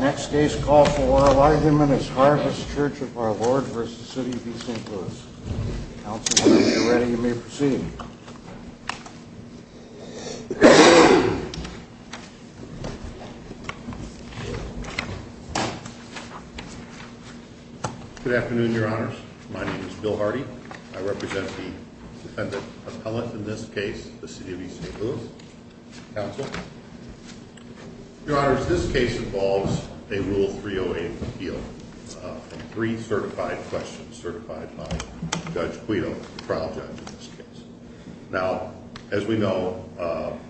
Next day's call for oral argument is Harvest Church of our Lord v. City of East St. Louis. Council, when you're ready, you may proceed. Good afternoon, your honors. My name is Bill Hardy. I represent the defendant appellate, in this case, the City of East St. Louis. Counsel. Your honors, this case involves a Rule 308 appeal. Three certified questions certified by Judge Quito, the trial judge in this case. Now, as we know,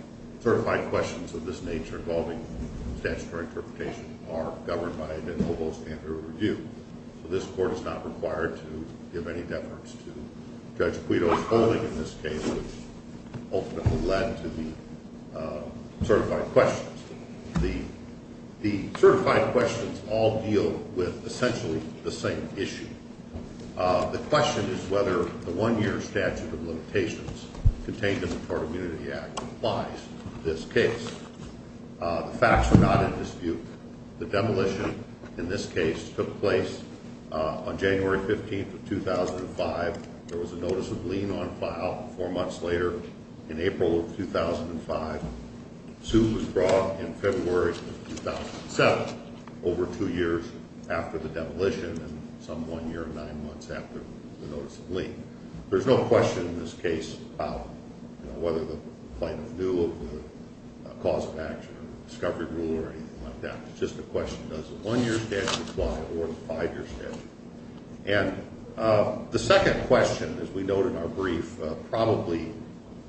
certified questions of this nature involving statutory interpretation are governed by the noble standard of review. So this court is not required to give any deference to Judge Quito's ruling in this case, which ultimately led to the certified questions. The certified questions all deal with essentially the same issue. The question is whether the one-year statute of limitations contained in the Tort Immunity Act applies to this case. The facts are not in dispute. The demolition in this case took place on January 15th of 2005. There was a notice of lien on file. Four months later, in April of 2005, suit was drawn in February of 2007, over two years after the demolition and some one year and nine months after the notice of lien. There's no question in this case about whether the plaintiff knew of the cause of action or discovery rule or anything like that. It's just a question, does the one-year statute apply or the five-year statute? And the second question, as we note in our brief, probably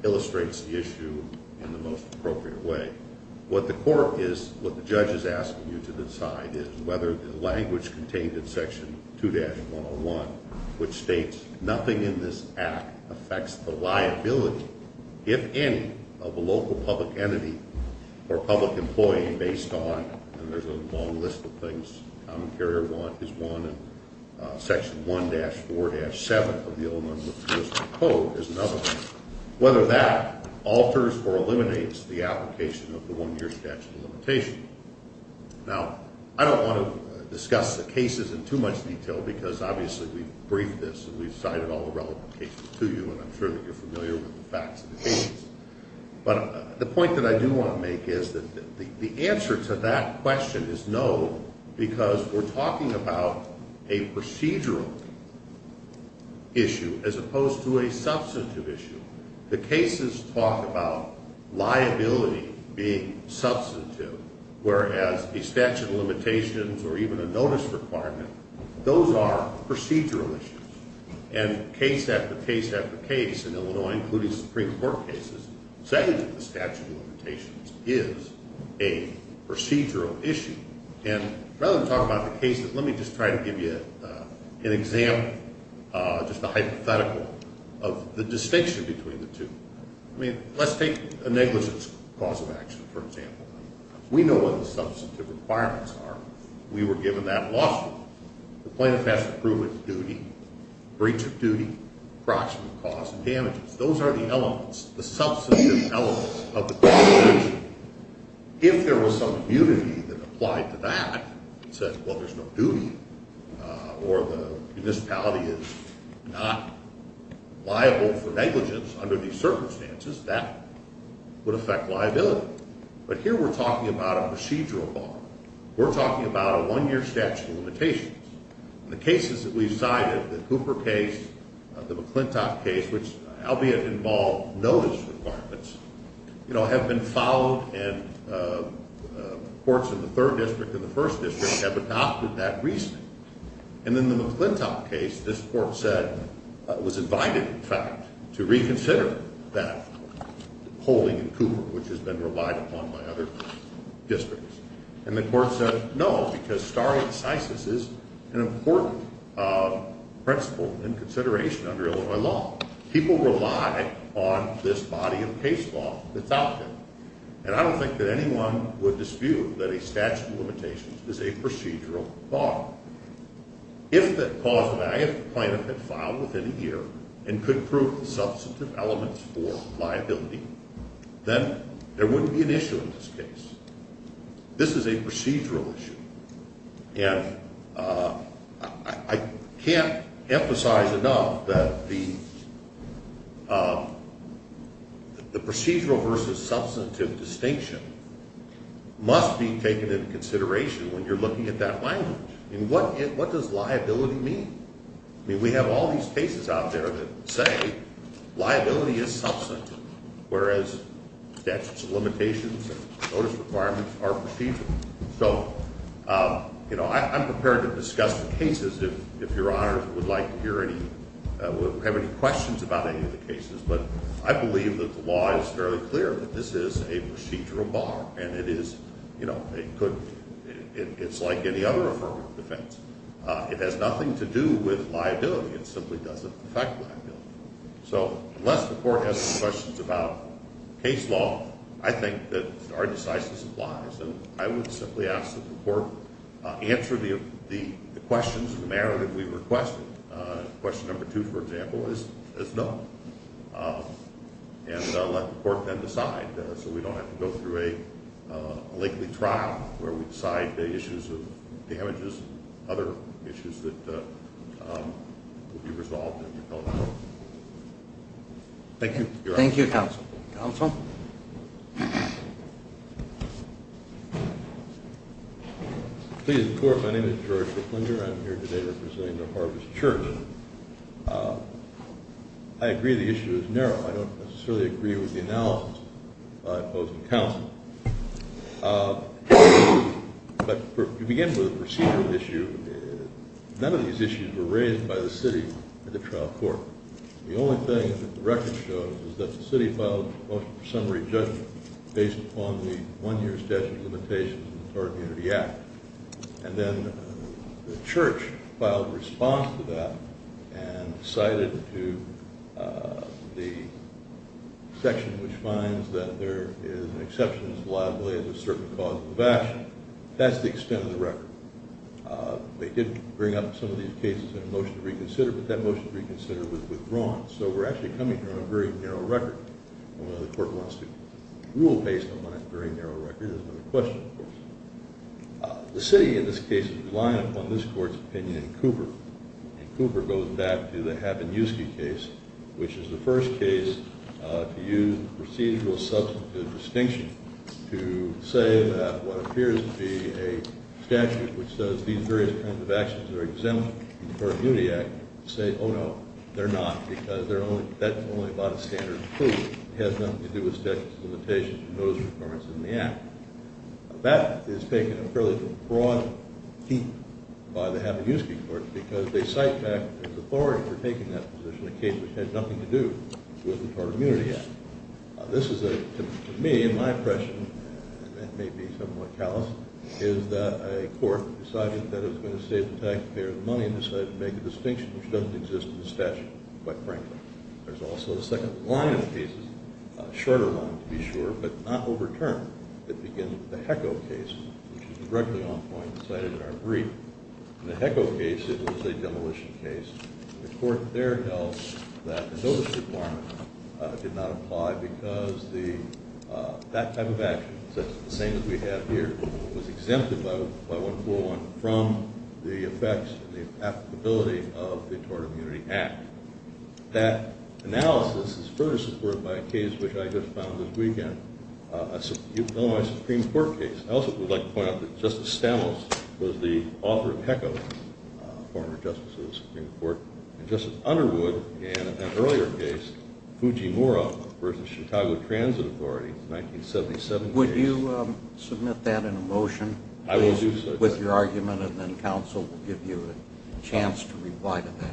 illustrates the issue in the most appropriate way. What the court is, what the judge is asking you to decide is whether the language contained in Section 2-101, which states nothing in this act affects the liability, if any, of a local public entity or public employee based on, and there's a long list of things, Common Carrier is one, and Section 1-4-7 of the Illinois Municipal Code is another one, whether that alters or eliminates the application of the one-year statute of limitation. Now, I don't want to discuss the cases in too much detail because obviously we've briefed this and we've cited all the relevant cases to you and I'm sure that you're familiar with the facts of the cases. But the point that I do want to make is that the answer to that question is no because we're talking about a procedural issue as opposed to a substantive issue. The cases talk about liability being substantive, whereas a statute of limitations or even a notice requirement, those are procedural issues. And case after case after case in Illinois, including Supreme Court cases, saying that the statute of limitations is a procedural issue. And rather than talk about the cases, let me just try to give you an example, just a hypothetical of the distinction between the two. I mean, let's take a negligence cause of action, for example. We know what the substantive requirements are. We were given that lawsuit. The plaintiff has to prove its duty, breach of duty, proximate cause of damages. Those are the elements, the substantive elements of the constitution. If there was some immunity that applied to that and said, well, there's no duty or the municipality is not liable for negligence under these circumstances, that would affect liability. But here we're talking about a procedural bar. We're talking about a one-year statute of limitations. The cases that we've cited, the Cooper case, the McClintock case, which albeit involved notice requirements, you know, have been followed and courts in the third district and the first district have adopted that recently. And in the McClintock case, this court said it was invited, in fact, to reconsider that holding in Cooper, which has been relied upon by other districts. And the court said no, because stare decisis is an important principle in consideration under Illinois law. People rely on this body of case law that's out there. And I don't think that anyone would dispute that a statute of limitations is a procedural bar. If the cause of action the plaintiff had filed within a year and could prove the substantive elements for liability, then there wouldn't be an issue in this case. This is a procedural issue. And I can't emphasize enough that the procedural versus substantive distinction must be taken into consideration when you're looking at that language. I mean, what does liability mean? I mean, we have all these cases out there that say liability is substantive, whereas statutes of limitations and notice requirements are procedural. So, you know, I'm prepared to discuss the cases if Your Honors would like to hear any or have any questions about any of the cases. But I believe that the law is fairly clear that this is a procedural bar, and it is, you know, it's like any other affirmative defense. It has nothing to do with liability. It simply doesn't affect liability. So unless the court has some questions about case law, I think that our decisiveness applies. And I would simply ask that the court answer the questions in the narrative we requested. Question number two, for example, is no. And let the court then decide so we don't have to go through a lengthy trial where we decide the issues of damages, other issues that will be resolved. Thank you, Your Honors. Thank you, counsel. Counsel? Please, the court, my name is George McClendon. I'm here today representing the Harvest Church. I agree the issue is narrow. I don't necessarily agree with the analysis I posed to counsel. But to begin with, the procedural issue, none of these issues were raised by the city at the trial court. The only thing that the record shows is that the city filed a motion for summary judgment based upon the one-year statute of limitations of the Tort and Unity Act. And then the church filed a response to that and cited to the section which finds that there is an exception to the liability as a certain cause of evasion. That's the extent of the record. They did bring up some of these cases in a motion to reconsider, but that motion to reconsider was withdrawn. So we're actually coming from a very narrow record. The court wants to rule based upon a very narrow record. Here's another question, of course. The city, in this case, is relying upon this court's opinion in Cooper. And Cooper goes back to the Habonuski case, which is the first case to use procedural substantive distinction to say that what appears to be a statute which says these various kinds of actions are exempt from the Tort and Unity Act, say, oh, no, they're not because that's only about a standard of proof. It has nothing to do with statutes of limitations and those requirements in the Act. That is taken a fairly broad heap by the Habonuski court because they cite back the authority for taking that position, a case which had nothing to do with the Tort and Unity Act. This is, to me, in my impression, and it may be somewhat callous, is that a court decided that it was going to save the taxpayer the money and decided to make a distinction which doesn't exist in the statute, quite frankly. There's also a second line of cases, a shorter line, to be sure, but not overturned. It begins with the HECO case, which is directly on point and cited in our brief. In the HECO case, it was a demolition case. The court there held that the notice requirement did not apply because that type of action, the same as we have here, was exempted by 1401 from the effects and the applicability of the Tort and Unity Act. That analysis is further supported by a case which I just found this weekend, a Illinois Supreme Court case. I also would like to point out that Justice Stamos was the author of HECO, a former justice of the Supreme Court, and Justice Underwood in an earlier case, Fujimura v. Chicago Transit Authority, 1977. Would you submit that in a motion? I will do so. With your argument and then counsel will give you a chance to reply to that.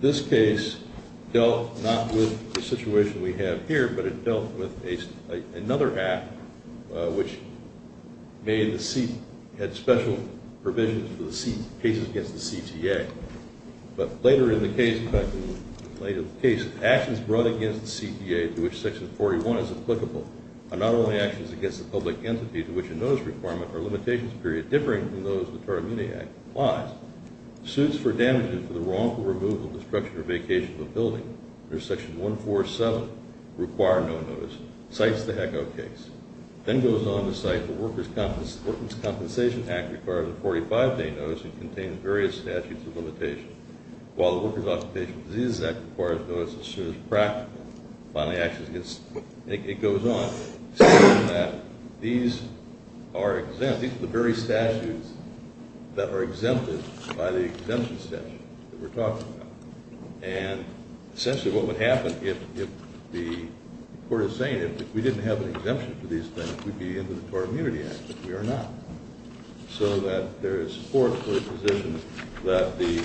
This case dealt not with the situation we have here, but it dealt with another act, which had special provisions for the cases against the CTA. But later in the case, actions brought against the CTA to which Section 41 is applicable are not only actions against the public entity to which a notice requirement or limitations period differing from those of the Tort and Unity Act applies. Suits for damages for the wrongful removal, destruction, or vacation of a building under Section 147 require no notice. Cites the HECO case. Then goes on to cite the Workers' Compensation Act requires a 45-day notice and contains various statutes of limitation, while the Workers' Occupational Diseases Act requires notice as soon as practical. Finally, actions against the CTA goes on, saying that these are exempt. These are the very statutes that are exempted by the exemption statute that we're talking about. And essentially what would happen if the court is saying if we didn't have an exemption for these things, we'd be in the Tort and Unity Act, but we are not. So that there is support for the position that the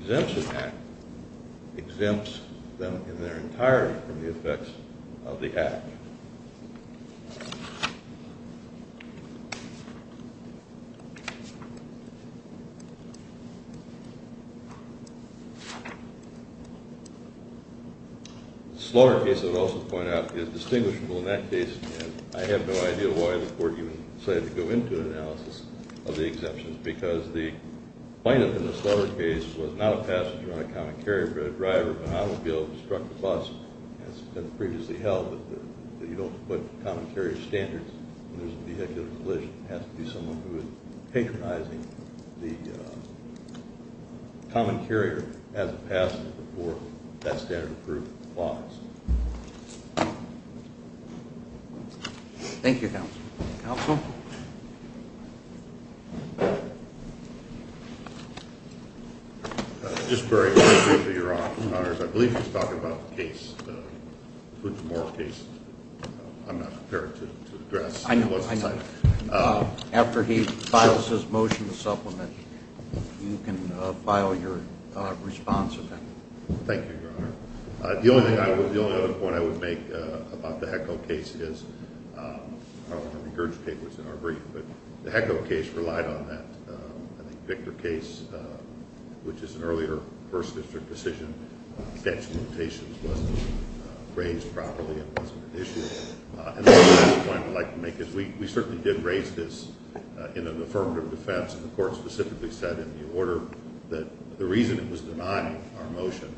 exemption act exempts them in their entirety from the effects of the act. Slower case I'd also point out is distinguishable in that case, and I have no idea why the court even decided to go into an analysis of the exemptions, because the plaintiff in the slower case was not a passenger on a common carrier, but a driver of a automobile who struck the bus, and it's been previously held that you don't put common carrier standards when there's a vehicular collision. It has to be someone who is patronizing the common carrier as a passenger before that standard of proof applies. Counsel? Just very briefly, Your Honor. I believe he's talking about the case, the Fujimori case. I'm not prepared to address what's in sight. I know. After he files his motion to supplement, you can file your response to that. Thank you, Your Honor. The only other point I would make about the HECO case is, I don't want to regurgitate what's in our brief, but the HECO case relied on that. I think the Victor case, which is an earlier First District decision, statute of limitations wasn't raised properly and wasn't an issue. And the other point I'd like to make is we certainly did raise this in an affirmative defense, and the Court specifically said in the order that the reason it was denied our motion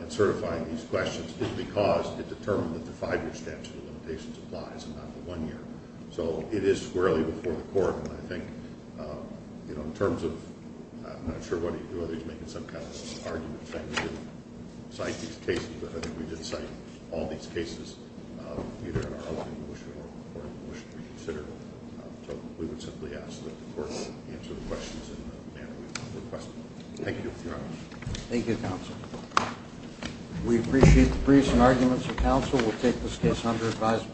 in certifying these questions is because it determined that the five-year statute of limitations applies and not the one year. So it is squarely before the Court. And I think in terms of – I'm not sure whether he's making some kind of argument saying we didn't cite these cases, but I think we did cite all these cases either in our opening motion or in the court motion we consider. So we would simply ask that the Court answer the questions in the manner we requested. Thank you, Your Honor. Thank you, Counsel. We appreciate the briefs and arguments of counsel. We'll take this case under advisement.